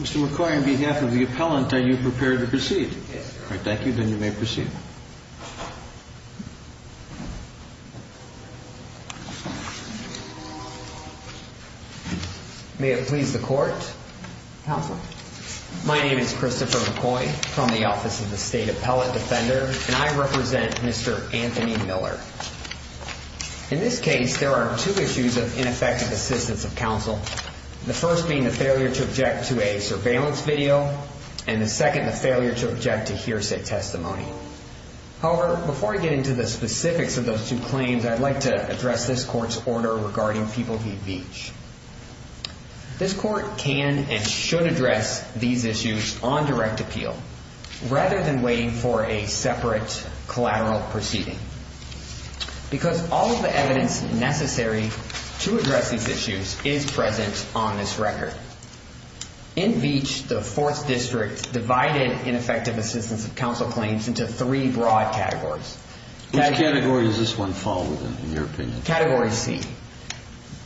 Mr. McCoy, on behalf of the appellant, are you prepared to proceed? Yes, sir. May it please the Court? Counsel. My name is Christopher McCoy from the Office of the State Appellate Defender, and I represent Mr. Anthony Miller. In this case, there are two issues of ineffective assistance of counsel, the first being the failure to object to a surveillance video, and the second, the failure to object to hearsay testimony. However, before I get into the specifics of those two claims, I'd like to address this Court's order regarding People v. Veach. This Court can and should address these issues on direct appeal, rather than waiting for a separate collateral proceeding. Because all of the evidence necessary to address these issues is present on this record. In Veach, the 4th District divided ineffective assistance of counsel claims into three broad categories. Which category does this one fall within, in your opinion? Category C.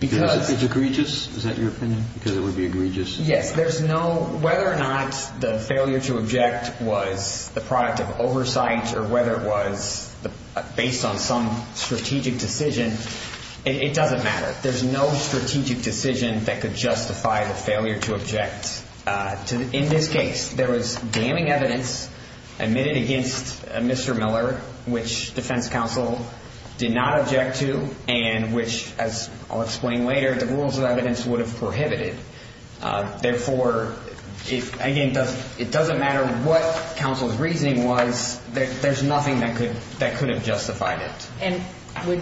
It's egregious? Is that your opinion? Because it would be egregious? Yes. Whether or not the failure to object was the product of oversight, or whether it was based on some strategic decision, it doesn't matter. There's no strategic decision that could justify the failure to object. In this case, there was damning evidence admitted against Mr. Miller, which defense counsel did not object to, and which, as I'll explain later, the rules of evidence would have prohibited. Therefore, again, it doesn't matter what counsel's reasoning was, there's nothing that could have justified it. And would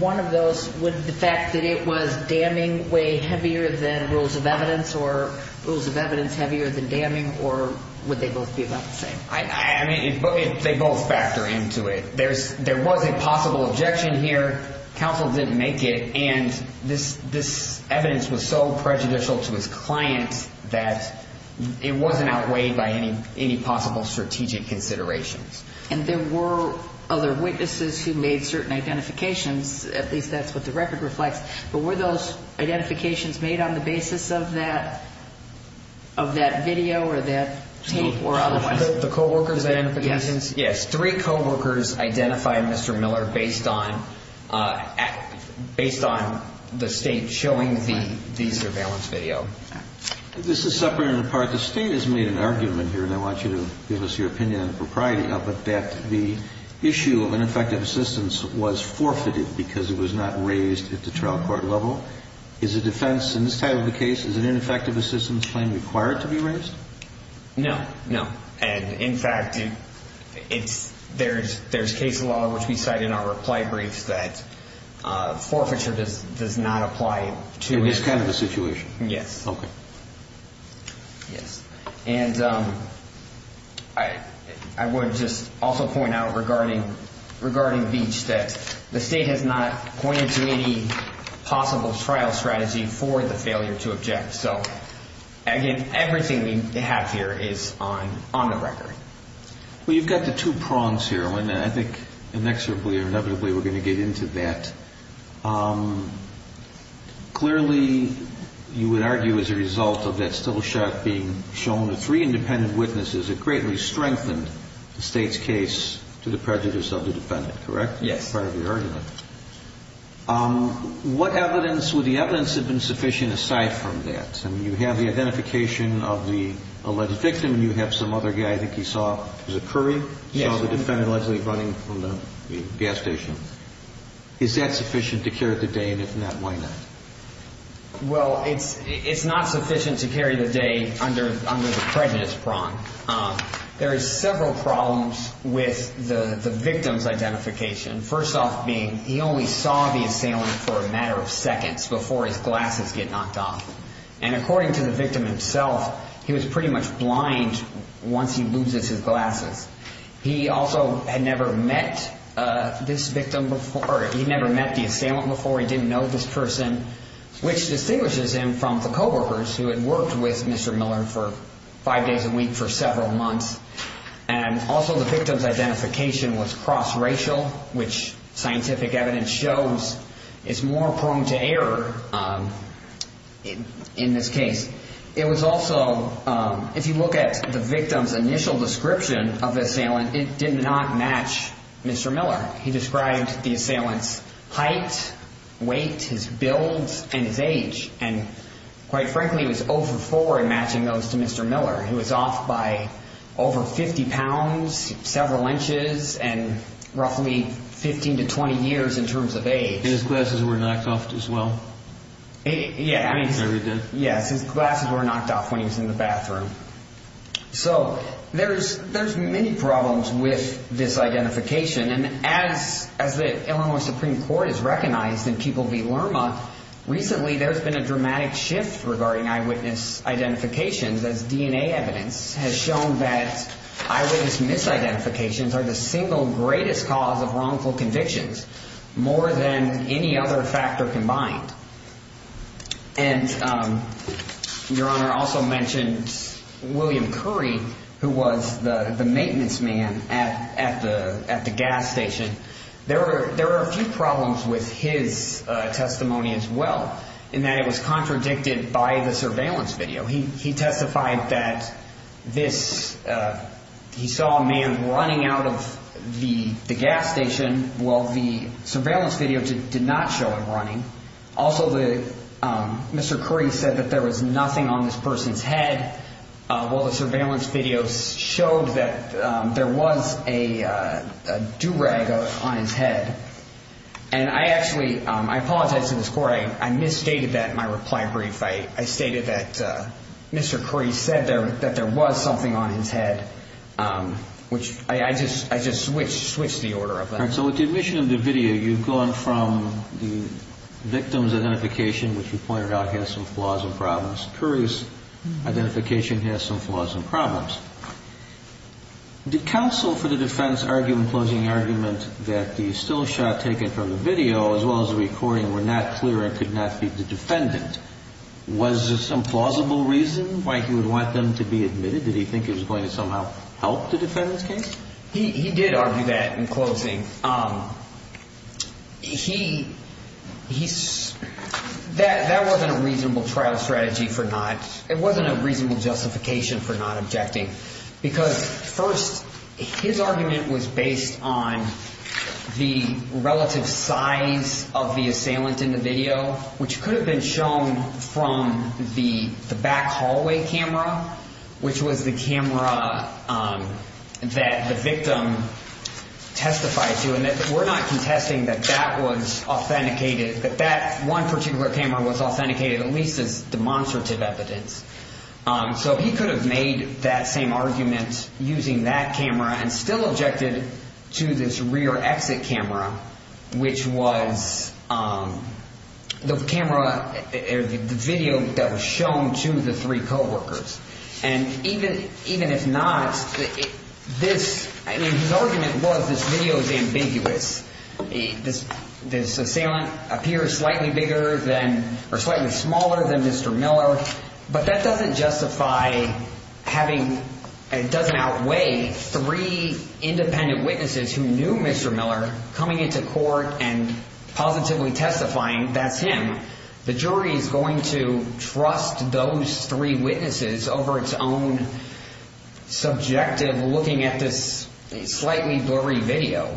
one of those, would the fact that it was damning weigh heavier than rules of evidence, or rules of evidence heavier than damning, or would they both be about the same? I mean, they both factor into it. There was a possible objection here, counsel didn't make it, and this evidence was so prejudicial to his client that it wasn't outweighed by any possible strategic considerations. And there were other witnesses who made certain identifications, at least that's what the record reflects, but were those identifications made on the basis of that video, or that tape, or otherwise? The co-workers' identifications? Yes, three co-workers identified Mr. Miller based on the State showing the surveillance video. This is separate and apart. The State has made an argument here, and I want you to give us your opinion on the propriety of it, that the issue of ineffective assistance was forfeited because it was not raised at the trial court level. Is the defense in this type of a case, is an ineffective assistance claim required to be raised? No, no. And, in fact, there's case law, which we cite in our reply briefs, that forfeiture does not apply to it. In this kind of a situation? Yes. Okay. Yes. And I would just also point out regarding Beach that the State has not pointed to any possible trial strategy for the failure to object. So, again, everything we have here is on the record. Well, you've got the two prongs here, and I think inexorably or inevitably we're going to get into that. Clearly, you would argue as a result of that still shot being shown, the three independent witnesses, it greatly strengthened the State's case to the prejudice of the defendant, correct? Yes. Part of your argument. What evidence would the evidence have been sufficient aside from that? I mean, you have the identification of the alleged victim, and you have some other guy, I think you saw, was it Curry? Yes. Saw the defendant allegedly running from the gas station. Is that sufficient to carry the day? And if not, why not? Well, it's not sufficient to carry the day under the prejudice prong. There are several problems with the victim's identification. First off being he only saw the assailant for a matter of seconds before his glasses get knocked off. And according to the victim himself, he was pretty much blind once he loses his glasses. He also had never met this victim before. He never met the assailant before. He didn't know this person, which distinguishes him from the coworkers who had worked with Mr. Miller for five days a week for several months. And also the victim's identification was cross-racial, which scientific evidence shows is more prone to error in this case. It was also, if you look at the victim's initial description of the assailant, it did not match Mr. Miller. He described the assailant's height, weight, his build, and his age. And quite frankly, he was over four in matching those to Mr. Miller. He was off by over 50 pounds, several inches, and roughly 15 to 20 years in terms of age. And his glasses were knocked off as well? Yeah. I read that. Yes, his glasses were knocked off when he was in the bathroom. So there's many problems with this identification. And as the Illinois Supreme Court has recognized in Keeple v. Lerma, recently there's been a dramatic shift regarding eyewitness identifications, as DNA evidence has shown that eyewitness misidentifications are the single greatest cause of wrongful convictions, more than any other factor combined. And Your Honor also mentioned William Curry, who was the maintenance man at the gas station. There were a few problems with his testimony as well, in that it was contradicted by the surveillance video. He testified that he saw a man running out of the gas station. Well, the surveillance video did not show him running. Also, Mr. Curry said that there was nothing on this person's head. Well, the surveillance video showed that there was a do-rag on his head. And I actually apologize to this Court. I misstated that in my reply brief. I stated that Mr. Curry said that there was something on his head, which I just switched the order of that. All right, so with the admission of the video, you've gone from the victim's identification, which you pointed out has some flaws and problems, Curry's identification has some flaws and problems. Did counsel for the defense argue in closing argument that the still shot taken from the video, as well as the recording, were not clear and could not be the defendant? Was there some plausible reason why he would want them to be admitted? Did he think it was going to somehow help the defendant's case? He did argue that in closing. That wasn't a reasonable trial strategy for not, it wasn't a reasonable justification for not objecting. Because first, his argument was based on the relative size of the assailant in the video, which could have been shown from the back hallway camera, which was the camera that the victim testified to. And we're not contesting that that was authenticated, that that one particular camera was authenticated at least as demonstrative evidence. So he could have made that same argument using that camera and still objected to this rear exit camera, which was the camera or the video that was shown to the three coworkers. And even if not, this, I mean, his argument was this video is ambiguous. This assailant appears slightly bigger than or slightly smaller than Mr. Miller. But that doesn't justify having, it doesn't outweigh three independent witnesses who knew Mr. Miller coming into court and positively testifying that's him. The jury is going to trust those three witnesses over its own subjective looking at this slightly blurry video.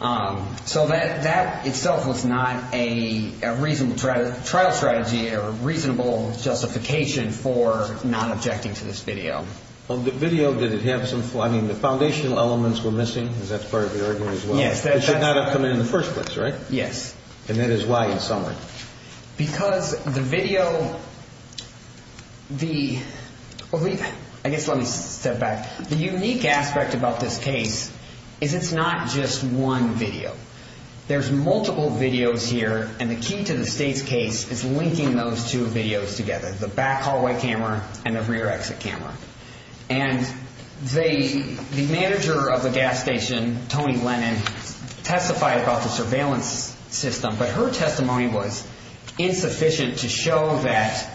So that itself was not a reasonable trial strategy or reasonable justification for not objecting to this video. On the video, did it have some, I mean, the foundational elements were missing. Is that part of the argument as well? Yes. It should not have come in the first place, right? Yes. And that is why in summary. Because the video, the, I guess let me step back. The unique aspect about this case is it's not just one video. There's multiple videos here. And the key to the state's case is linking those two videos together. The back hallway camera and the rear exit camera. And the manager of the gas station, Tony Lennon, testified about the surveillance system. But her testimony was insufficient to show that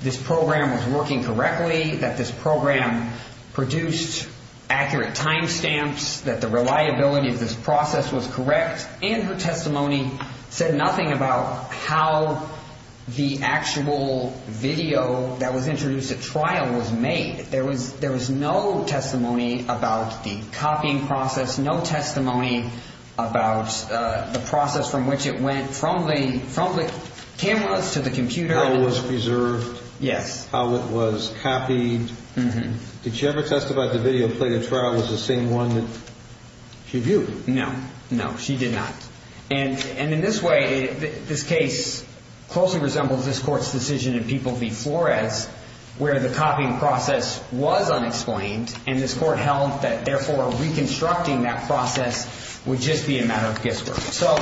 this program was working correctly. That this program produced accurate time stamps. That the reliability of this process was correct. And her testimony said nothing about how the actual video that was introduced at trial was made. There was no testimony about the copying process. No testimony about the process from which it went from the cameras to the computer. How it was preserved. Yes. How it was copied. Did she ever testify that the video played at trial was the same one that she viewed? No. No, she did not. And in this way, this case closely resembles this court's decision in People v. Flores. Where the copying process was unexplained. And this court held that, therefore, reconstructing that process would just be a matter of guesswork. So,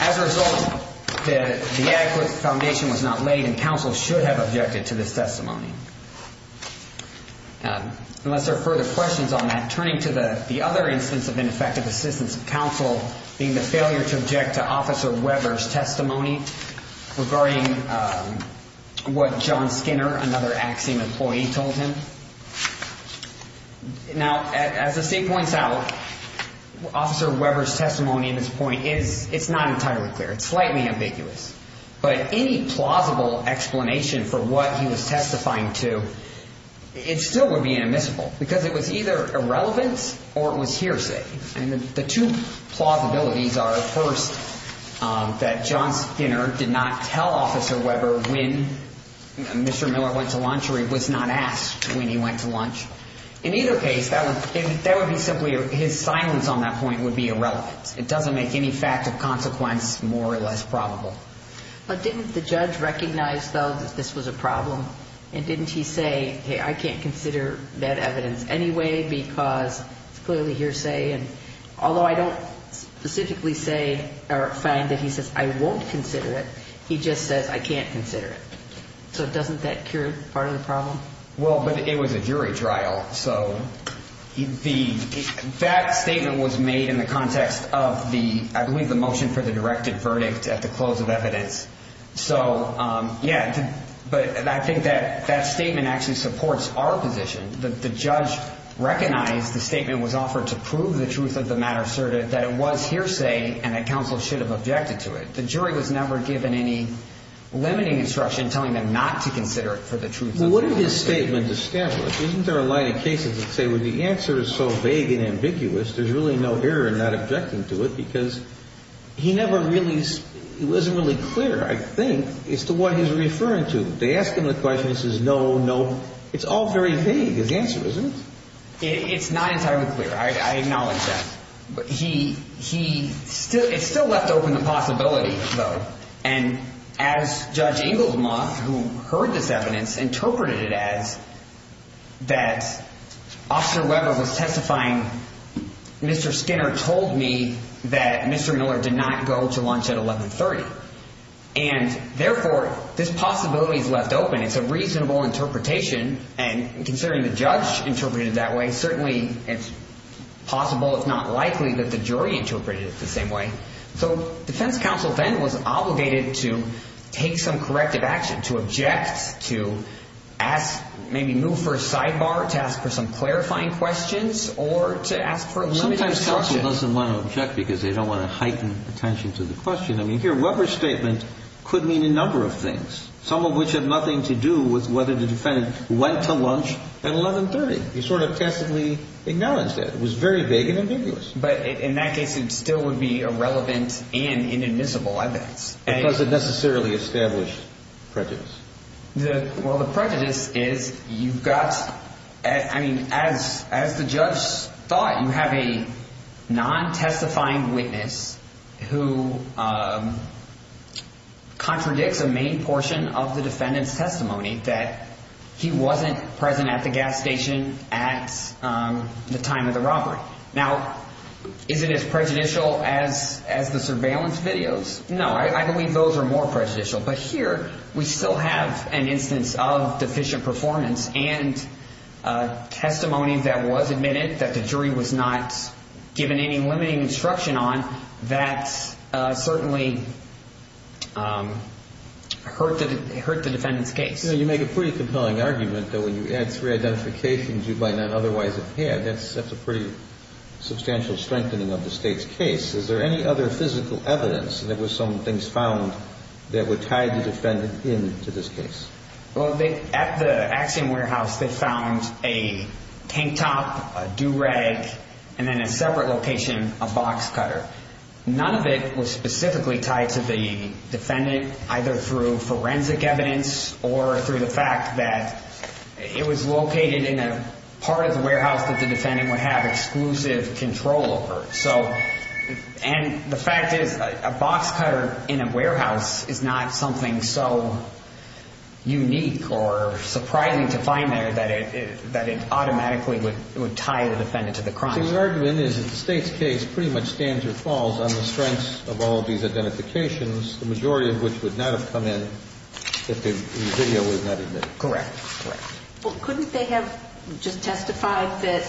as a result, the adequate foundation was not laid. And counsel should have objected to this testimony. Unless there are further questions on that. Turning to the other instance of ineffective assistance of counsel. Being the failure to object to Officer Weber's testimony. Regarding what John Skinner, another Axiom employee, told him. Now, as the state points out, Officer Weber's testimony in this point is not entirely clear. It's slightly ambiguous. But any plausible explanation for what he was testifying to, it still would be inadmissible. Because it was either irrelevance or it was hearsay. And the two plausibilities are, first, that John Skinner did not tell Officer Weber when Mr. Miller went to lunch. Or he was not asked when he went to lunch. In either case, that would be simply his silence on that point would be irrelevant. It doesn't make any fact of consequence more or less probable. But didn't the judge recognize, though, that this was a problem? And didn't he say, hey, I can't consider that evidence anyway because it's clearly hearsay. And although I don't specifically say or find that he says I won't consider it, he just says I can't consider it. So doesn't that cure part of the problem? Well, but it was a jury trial. So that statement was made in the context of the, I believe, the motion for the directed verdict at the close of evidence. So, yeah, but I think that that statement actually supports our position. The judge recognized the statement was offered to prove the truth of the matter asserted, that it was hearsay, and that counsel should have objected to it. The jury was never given any limiting instruction telling them not to consider it for the truth of the matter asserted. Well, what if his statement established? Isn't there a line of cases that say, well, the answer is so vague and ambiguous, there's really no error in not objecting to it. Because he never really, it wasn't really clear, I think, as to what he's referring to. They ask him the question, he says no, no. It's all very vague, his answer, isn't it? It's not entirely clear. I acknowledge that. And as Judge Inglesmoth, who heard this evidence, interpreted it as that Officer Weber was testifying, Mr. Skinner told me that Mr. Miller did not go to lunch at 1130. And therefore, this possibility is left open. It's a reasonable interpretation. And considering the judge interpreted it that way, certainly it's possible, if not likely, that the jury interpreted it the same way. So defense counsel then was obligated to take some corrective action, to object, to ask, maybe move for a sidebar, to ask for some clarifying questions, or to ask for a limiting instruction. Sometimes counsel doesn't want to object because they don't want to heighten attention to the question. I mean, here Weber's statement could mean a number of things, some of which have nothing to do with whether the defendant went to lunch at 1130. He sort of passively acknowledged that. It was very vague and ambiguous. But in that case, it still would be irrelevant and inadmissible, I bet. It doesn't necessarily establish prejudice. Well, the prejudice is you've got – I mean, as the judge thought, you have a non-testifying witness who contradicts a main portion of the defendant's testimony that he wasn't present at the gas station at the time of the robbery. Now, is it as prejudicial as the surveillance videos? No, I believe those are more prejudicial. But here we still have an instance of deficient performance and testimony that was admitted, that the jury was not given any limiting instruction on. That certainly hurt the defendant's case. You know, you make a pretty compelling argument that when you add three identifications, you might not otherwise have had. That's a pretty substantial strengthening of the State's case. Is there any other physical evidence that there were some things found that were tied the defendant in to this case? Well, at the Axiom warehouse, they found a tank top, a do-rag, and then in a separate location, a box cutter. None of it was specifically tied to the defendant, either through forensic evidence or through the fact that it was located in a part of the warehouse that the defendant would have exclusive control over. So – and the fact is, a box cutter in a warehouse is not something so unique or surprising to find there that it automatically would tie the defendant to the crime. The argument is that the State's case pretty much stands or falls on the strengths of all of these identifications, the majority of which would not have come in if the video was not admitted. Correct. Well, couldn't they have just testified that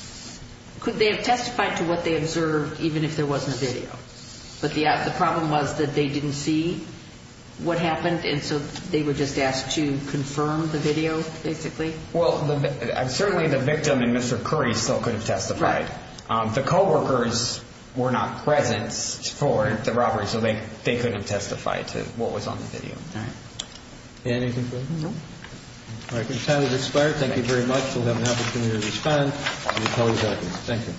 – could they have testified to what they observed even if there wasn't a video? But the problem was that they didn't see what happened, and so they were just asked to confirm the video, basically? Well, certainly the victim and Mr. Curry still could have testified. Right. The co-workers were not present for the robbery, so they couldn't have testified to what was on the video. All right. Anything further? No. All right, your time has expired. Thank you very much. We'll have an opportunity to respond when we call you back. Thank you.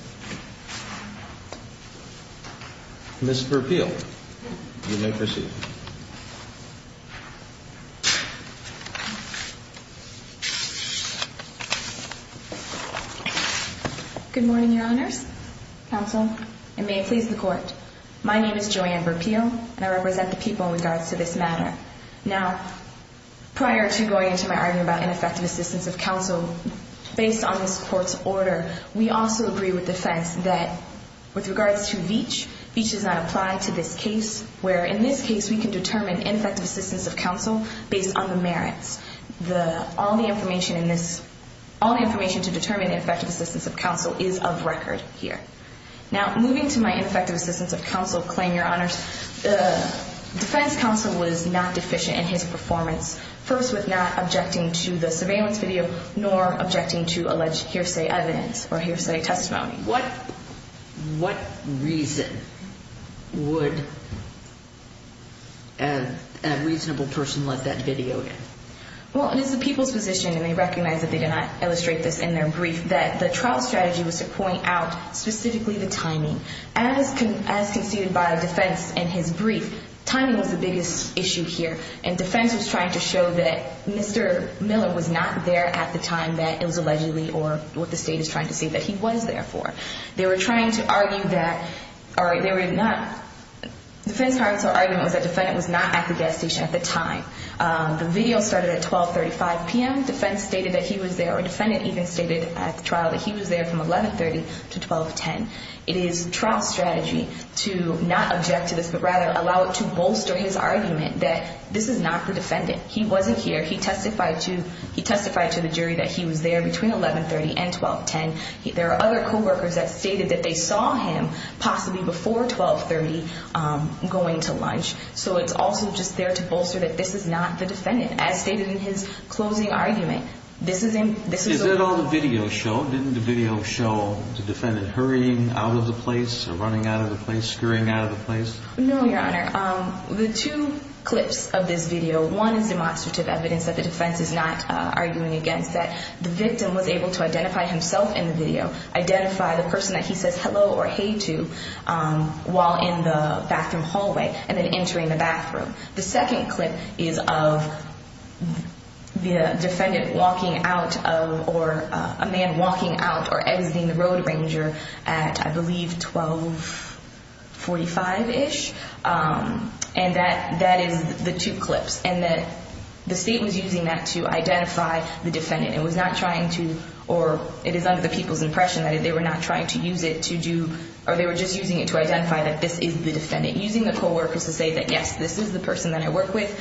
Mr. Peel, you may proceed. Good morning, Your Honors, Counsel, and may it please the Court. My name is Joanne Burpeel, and I represent the people in regards to this matter. Now, prior to going into my argument about ineffective assistance of counsel, based on this Court's order, we also agree with defense that with regards to Veatch, Veatch does not apply to this case, where in this case we can determine ineffective assistance of counsel based on the merits. All the information to determine ineffective assistance of counsel is of record here. Now, moving to my ineffective assistance of counsel claim, Your Honors, the defense counsel was not deficient in his performance, first with not objecting to the surveillance video nor objecting to alleged hearsay evidence or hearsay testimony. What reason would a reasonable person let that video in? Well, it is the people's position, and they recognize that they did not illustrate this in their brief, that the trial strategy was to point out specifically the timing. As conceded by defense in his brief, timing was the biggest issue here, and defense was trying to show that Mr. Miller was not there at the time that it was allegedly, or what the State is trying to say, that he was there for. They were trying to argue that, or they were not, defense counsel's argument was that the defendant was not at the gas station at the time. The video started at 12.35 p.m. Defense stated that he was there, or the defendant even stated at the trial that he was there from 11.30 to 12.10. It is trial strategy to not object to this, but rather allow it to bolster his argument that this is not the defendant. He wasn't here. He testified to the jury that he was there between 11.30 and 12.10. There are other coworkers that stated that they saw him possibly before 12.30 going to lunch, so it's also just there to bolster that this is not the defendant, as stated in his closing argument. Is that all the video showed? No, didn't the video show the defendant hurrying out of the place or running out of the place, scurrying out of the place? No, Your Honor. The two clips of this video, one is demonstrative evidence that the defense is not arguing against, that the victim was able to identify himself in the video, identify the person that he says hello or hey to while in the bathroom hallway and then entering the bathroom. The second clip is of the defendant walking out or a man walking out or exiting the Road Ranger at, I believe, 12.45-ish. And that is the two clips. And the state was using that to identify the defendant. It was not trying to, or it is under the people's impression that they were not trying to use it to do, or they were just using it to identify that this is the defendant. Using the co-workers to say that, yes, this is the person that I work with.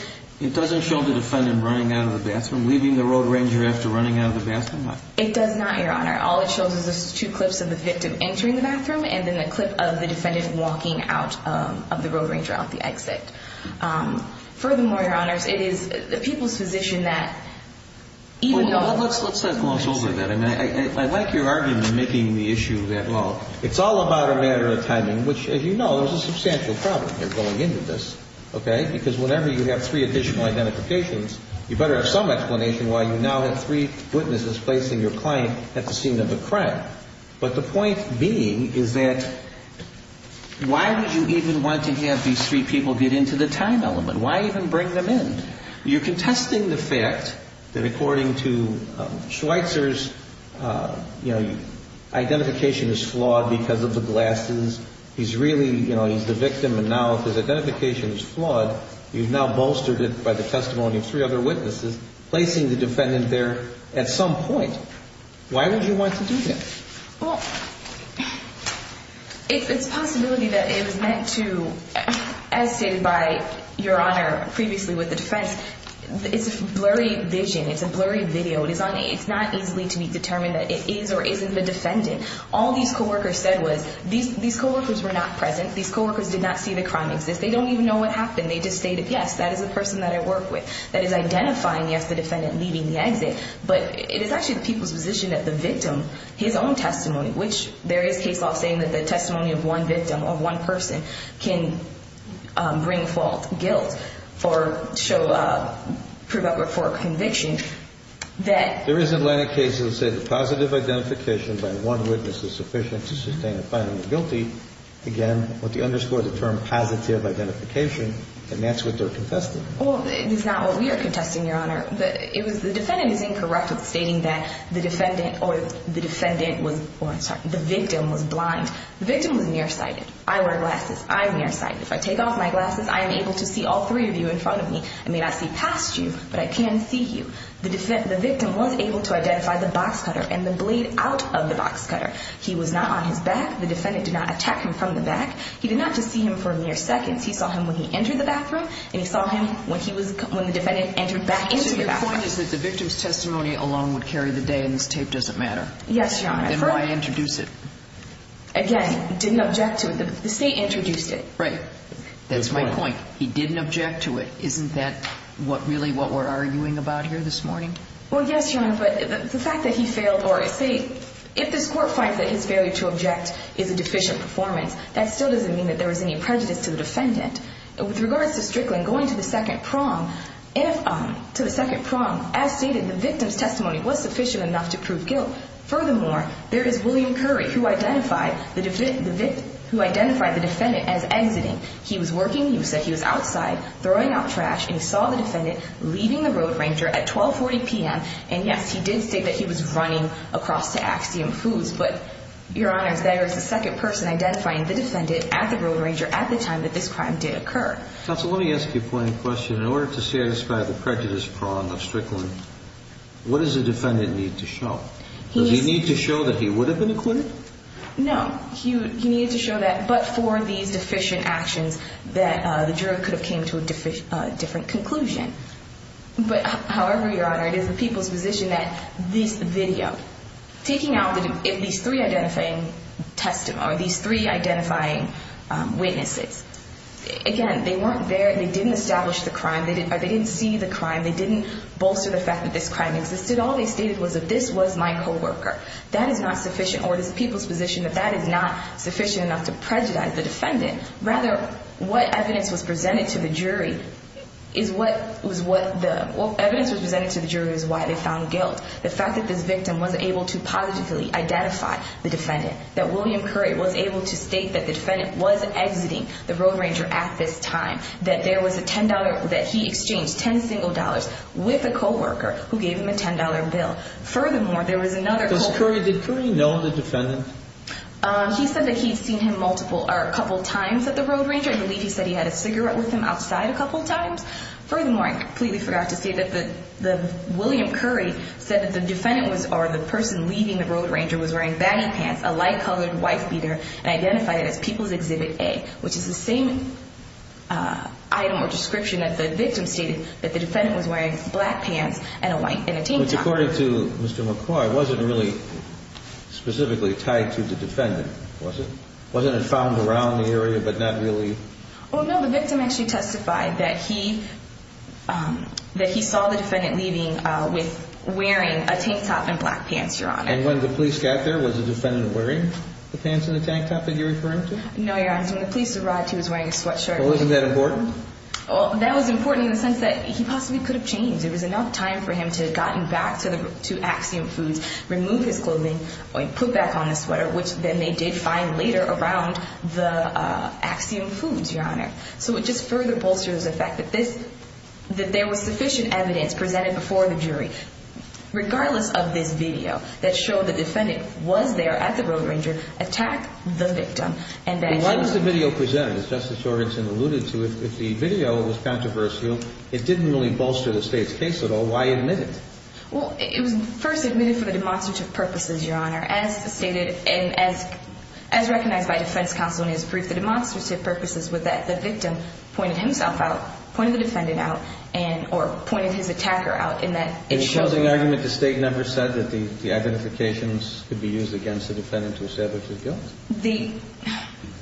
It doesn't show the defendant running out of the bathroom, leaving the Road Ranger after running out of the bathroom? It does not, Your Honor. All it shows is the two clips of the victim entering the bathroom and then a clip of the defendant walking out of the Road Ranger at the exit. Furthermore, Your Honors, it is the people's position that even though... Well, let's let's let's gloss over that. I like your argument making the issue that long. It's all about a matter of timing, which, as you know, there's a substantial problem here going into this, okay? Because whenever you have three additional identifications, you better have some explanation why you now have three witnesses placing your client at the scene of a crime. But the point being is that why would you even want to have these three people get into the time element? Why even bring them in? You're contesting the fact that according to Schweitzer's, you know, identification is flawed because of the glasses. He's really, you know, he's the victim. And now if his identification is flawed, you've now bolstered it by the testimony of three other witnesses, placing the defendant there at some point. Why would you want to do that? Well, it's a possibility that it was meant to, as stated by Your Honor previously with the defense, it's a blurry vision. It's a blurry video. It's not easily to be determined that it is or isn't the defendant. All these co-workers said was these co-workers were not present. These co-workers did not see the crime exist. They don't even know what happened. They just stated, yes, that is the person that I work with that is identifying, yes, the defendant leaving the exit. But it is actually the people's position that the victim, his own testimony, which there is case law saying that the testimony of one victim or one person can bring fault, guilt, or show, prove up for conviction, that. There is a line of cases that say the positive identification by one witness is sufficient to sustain a final guilty. Again, with the underscore, the term positive identification. And that's what they're contesting. Well, it's not what we are contesting, Your Honor. The defendant is incorrect with stating that the defendant or the victim was blind. The victim was nearsighted. I wear glasses. I'm nearsighted. If I take off my glasses, I am able to see all three of you in front of me. I may not see past you, but I can see you. The victim was able to identify the box cutter and the blade out of the box cutter. He was not on his back. The defendant did not attack him from the back. He did not just see him for mere seconds. He saw him when he entered the bathroom, and he saw him when the defendant entered back into the bathroom. So your point is that the victim's testimony alone would carry the day, and this tape doesn't matter. Yes, Your Honor. Then why introduce it? Again, didn't object to it. The state introduced it. Right. That's my point. He didn't object to it. Isn't that really what we're arguing about here this morning? Well, yes, Your Honor. But the fact that he failed or, say, if this court finds that his failure to object is a deficient performance, that still doesn't mean that there was any prejudice to the defendant. With regards to Strickland going to the second prong, as stated, the victim's testimony was sufficient enough to prove guilt. Furthermore, there is William Curry, who identified the defendant as exiting. He was working. He said he was outside throwing out trash, and he saw the defendant leaving the Road Ranger at 1240 p.m., and, yes, he did say that he was running across to Axiom Foods. But, Your Honor, there is a second person identifying the defendant at the Road Ranger at the time that this crime did occur. Counsel, let me ask you one question. In order to satisfy the prejudice prong of Strickland, what does the defendant need to show? Does he need to show that he would have been acquitted? No. He needed to show that but for these deficient actions that the jury could have came to a different conclusion. But, however, Your Honor, it is the people's position that this video, taking out these three identifying witnesses, again, they weren't there. They didn't establish the crime. They didn't see the crime. They didn't bolster the fact that this crime existed. All they stated was that this was my coworker. That is not sufficient, or it is the people's position that that is not sufficient enough to prejudice the defendant. Rather, what evidence was presented to the jury is why they found guilt. The fact that this victim was able to positively identify the defendant, that William Curry was able to state that the defendant was exiting the Road Ranger at this time, that there was a $10 that he exchanged, 10 single dollars, with a coworker who gave him a $10 bill. Furthermore, there was another coworker. Did Curry know the defendant? He said that he had seen him a couple times at the Road Ranger. I believe he said he had a cigarette with him outside a couple times. Furthermore, I completely forgot to say that William Curry said that the defendant or the person leaving the Road Ranger was wearing baggy pants, a light-colored white beater, and identified it as People's Exhibit A, which is the same item or description that the victim stated that the defendant was wearing, black pants and a tank top. Which, according to Mr. McCoy, wasn't really specifically tied to the defendant, was it? Wasn't it found around the area, but not really? Oh, no. The victim actually testified that he saw the defendant leaving with wearing a tank top and black pants, Your Honor. And when the police got there, was the defendant wearing the pants and the tank top that you're referring to? No, Your Honor. When the police arrived, he was wearing a sweatshirt. Well, isn't that important? That was important in the sense that he possibly could have changed. There was enough time for him to have gotten back to Axiom Foods, removed his clothing, and put back on the sweater, which then they did find later around the Axiom Foods, Your Honor. So it just further bolsters the fact that there was sufficient evidence presented before the jury. Regardless of this video that showed the defendant was there at the Road Ranger, attack the victim. Why was the video presented? As Justice Jorgenson alluded to, if the video was controversial, it didn't really bolster the State's case at all. Why admit it? Well, it was first admitted for the demonstrative purposes, Your Honor. As stated and as recognized by defense counsel in his brief, the demonstrative purposes were that the victim pointed himself out, pointed the defendant out, or pointed his attacker out in that it showed. In the closing argument, the State never said that the identifications could be used against the defendant to establish his guilt?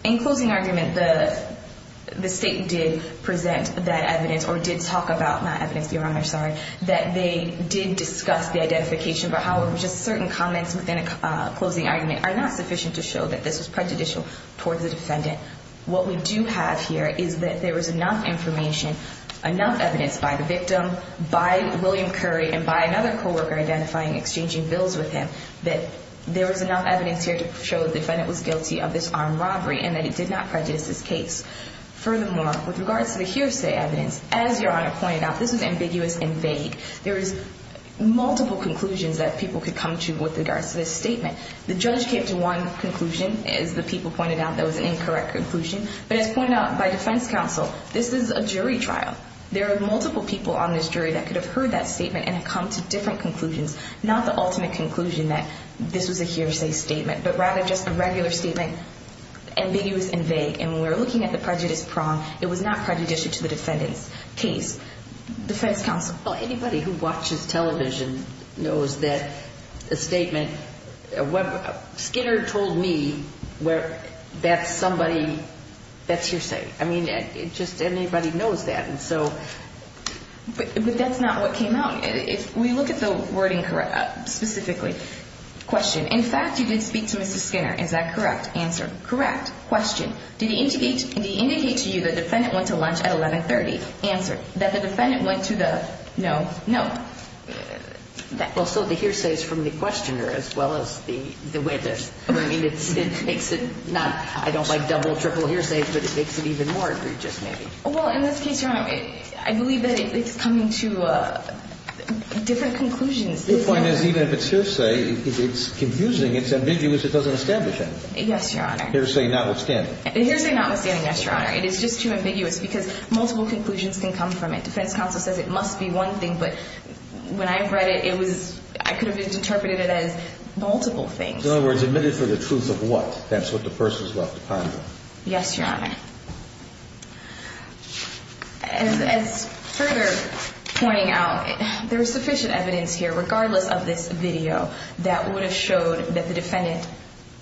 In closing argument, the State did present that evidence, or did talk about that evidence, Your Honor, sorry, that they did discuss the identification, but however, just certain comments within a closing argument are not sufficient to show that this was prejudicial towards the defendant. What we do have here is that there was enough information, enough evidence by the victim, by William Curry, and by another coworker identifying and exchanging bills with him, that there was enough evidence here to show the defendant was guilty of this armed robbery and that he did not prejudice his case. Furthermore, with regards to the hearsay evidence, as Your Honor pointed out, this is ambiguous and vague. There is multiple conclusions that people could come to with regards to this statement. The judge came to one conclusion, as the people pointed out, that was an incorrect conclusion, but as pointed out by defense counsel, this is a jury trial. There are multiple people on this jury that could have heard that statement and come to different conclusions, not the ultimate conclusion that this was a hearsay statement, but rather just a regular statement, ambiguous and vague. And when we're looking at the prejudice prong, it was not prejudicial to the defendant's case. Defense counsel? Well, anybody who watches television knows that the statement, Skinner told me, that's somebody, that's hearsay. I mean, just anybody knows that. But that's not what came out. If we look at the wording specifically, question. In fact, you did speak to Mr. Skinner. Is that correct? Answer. Correct. Question. Did he indicate to you the defendant went to lunch at 1130? Answer. That the defendant went to the? No. No. Well, so the hearsay is from the questioner as well as the witness. I mean, it makes it not, I don't like double, triple hearsays, but it makes it even more egregious maybe. Well, in this case, Your Honor, I believe that it's coming to different conclusions. The point is, even if it's hearsay, it's confusing, it's ambiguous, it doesn't establish anything. Yes, Your Honor. Hearsay notwithstanding. Hearsay notwithstanding, yes, Your Honor. It is just too ambiguous because multiple conclusions can come from it. Defense counsel says it must be one thing, but when I read it, it was, I could have interpreted it as multiple things. In other words, admitted for the truth of what? That's what the person is left to ponder. Yes, Your Honor. As further pointing out, there is sufficient evidence here, regardless of this video, that would have showed that the defendant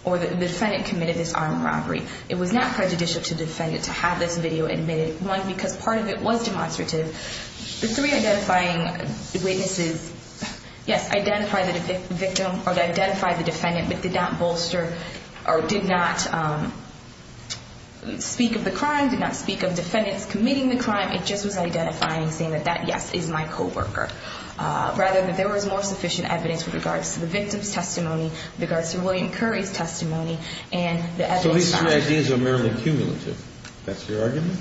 or the defendant committed this armed robbery. It was not prejudicial to the defendant to have this video admitted. One, because part of it was demonstrative. The three identifying witnesses, yes, identified the victim or identified the defendant, but did not bolster or did not speak of the crime, did not speak of defendants committing the crime. It just was identifying, saying that that, yes, is my coworker, rather than there was more sufficient evidence with regards to the victim's testimony, with regards to William Curry's testimony and the evidence found. So these three ideas are merely cumulative. That's your argument?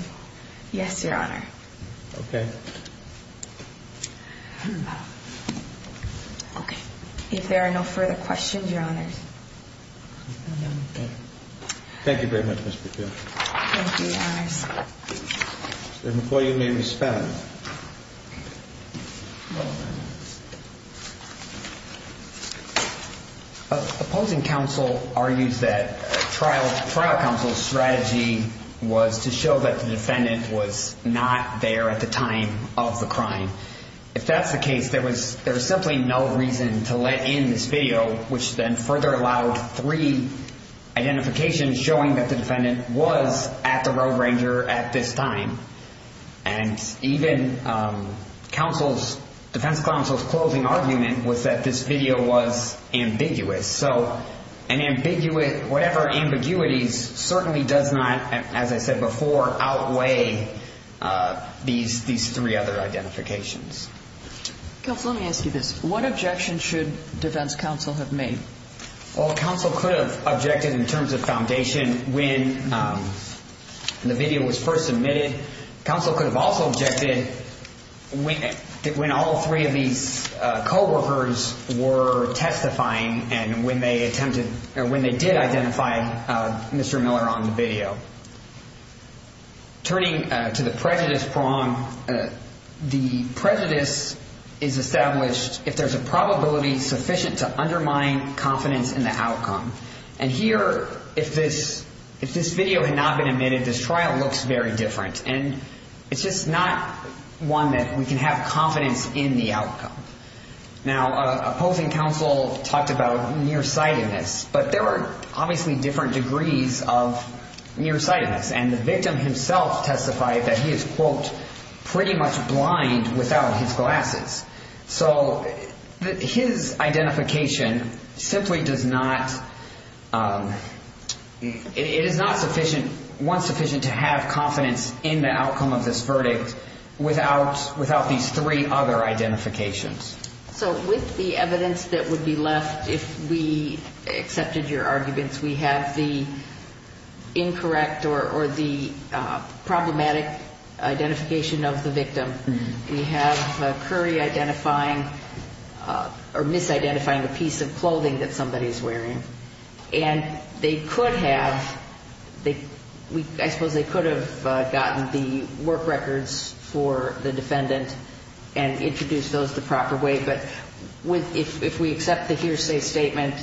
Yes, Your Honor. Okay. Okay. If there are no further questions, Your Honors. Thank you very much, Ms. McKeown. Thank you, Your Honors. Mr. McCoy, you may respond. Opposing counsel argues that trial counsel's strategy was to show that the defendant was not there at the time of the crime. If that's the case, there was simply no reason to let in this video, which then further allowed three identifications showing that the defendant was at the Road Ranger at this time. And even defense counsel's closing argument was that this video was ambiguous. So whatever ambiguities certainly does not, as I said before, outweigh these three other identifications. Counsel, let me ask you this. What objection should defense counsel have made? Well, counsel could have objected in terms of foundation when the video was first submitted. Counsel could have also objected when all three of these coworkers were testifying and when they attempted or when they did identify Mr. Miller on the video. Turning to the prejudice prong, the prejudice is established if there's a probability sufficient to undermine confidence in the outcome. And here, if this video had not been admitted, this trial looks very different. And it's just not one that we can have confidence in the outcome. Now, opposing counsel talked about nearsightedness, but there are obviously different degrees of nearsightedness. And the victim himself testified that he is, quote, pretty much blind without his glasses. So his identification simply does not, it is not sufficient, one sufficient to have confidence in the outcome of this verdict without these three other identifications. So with the evidence that would be left if we accepted your arguments, we have the incorrect or the problematic identification of the victim. We have Curry identifying or misidentifying a piece of clothing that somebody is wearing. And they could have, I suppose they could have gotten the work records for the defendant and introduced those the proper way. But if we accept the hearsay statement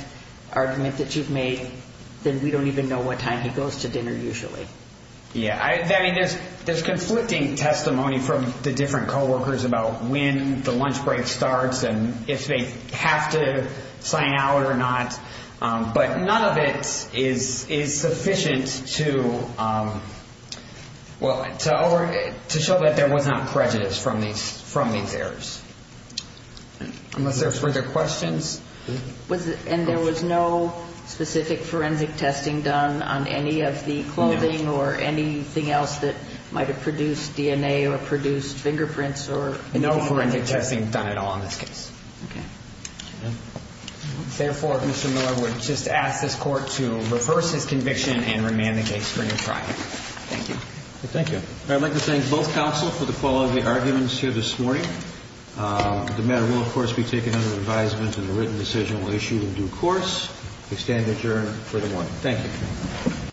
argument that you've made, then we don't even know what time he goes to dinner usually. Yeah, I mean, there's conflicting testimony from the different coworkers about when the lunch break starts and if they have to sign out or not. But none of it is sufficient to, well, to show that there was not prejudice from these errors. Unless there are further questions. And there was no specific forensic testing done on any of the clothing or anything else that might have produced DNA or produced fingerprints or anything? No forensic testing done at all in this case. Okay. Therefore, Mr. Miller would just ask this Court to reverse his conviction and remand the case for new trial. Thank you. Thank you. I'd like to thank both counsel for the quality of the arguments here this morning. The matter will, of course, be taken under advisement and a written decision will be issued in due course. We stand adjourned for the morning. Thank you.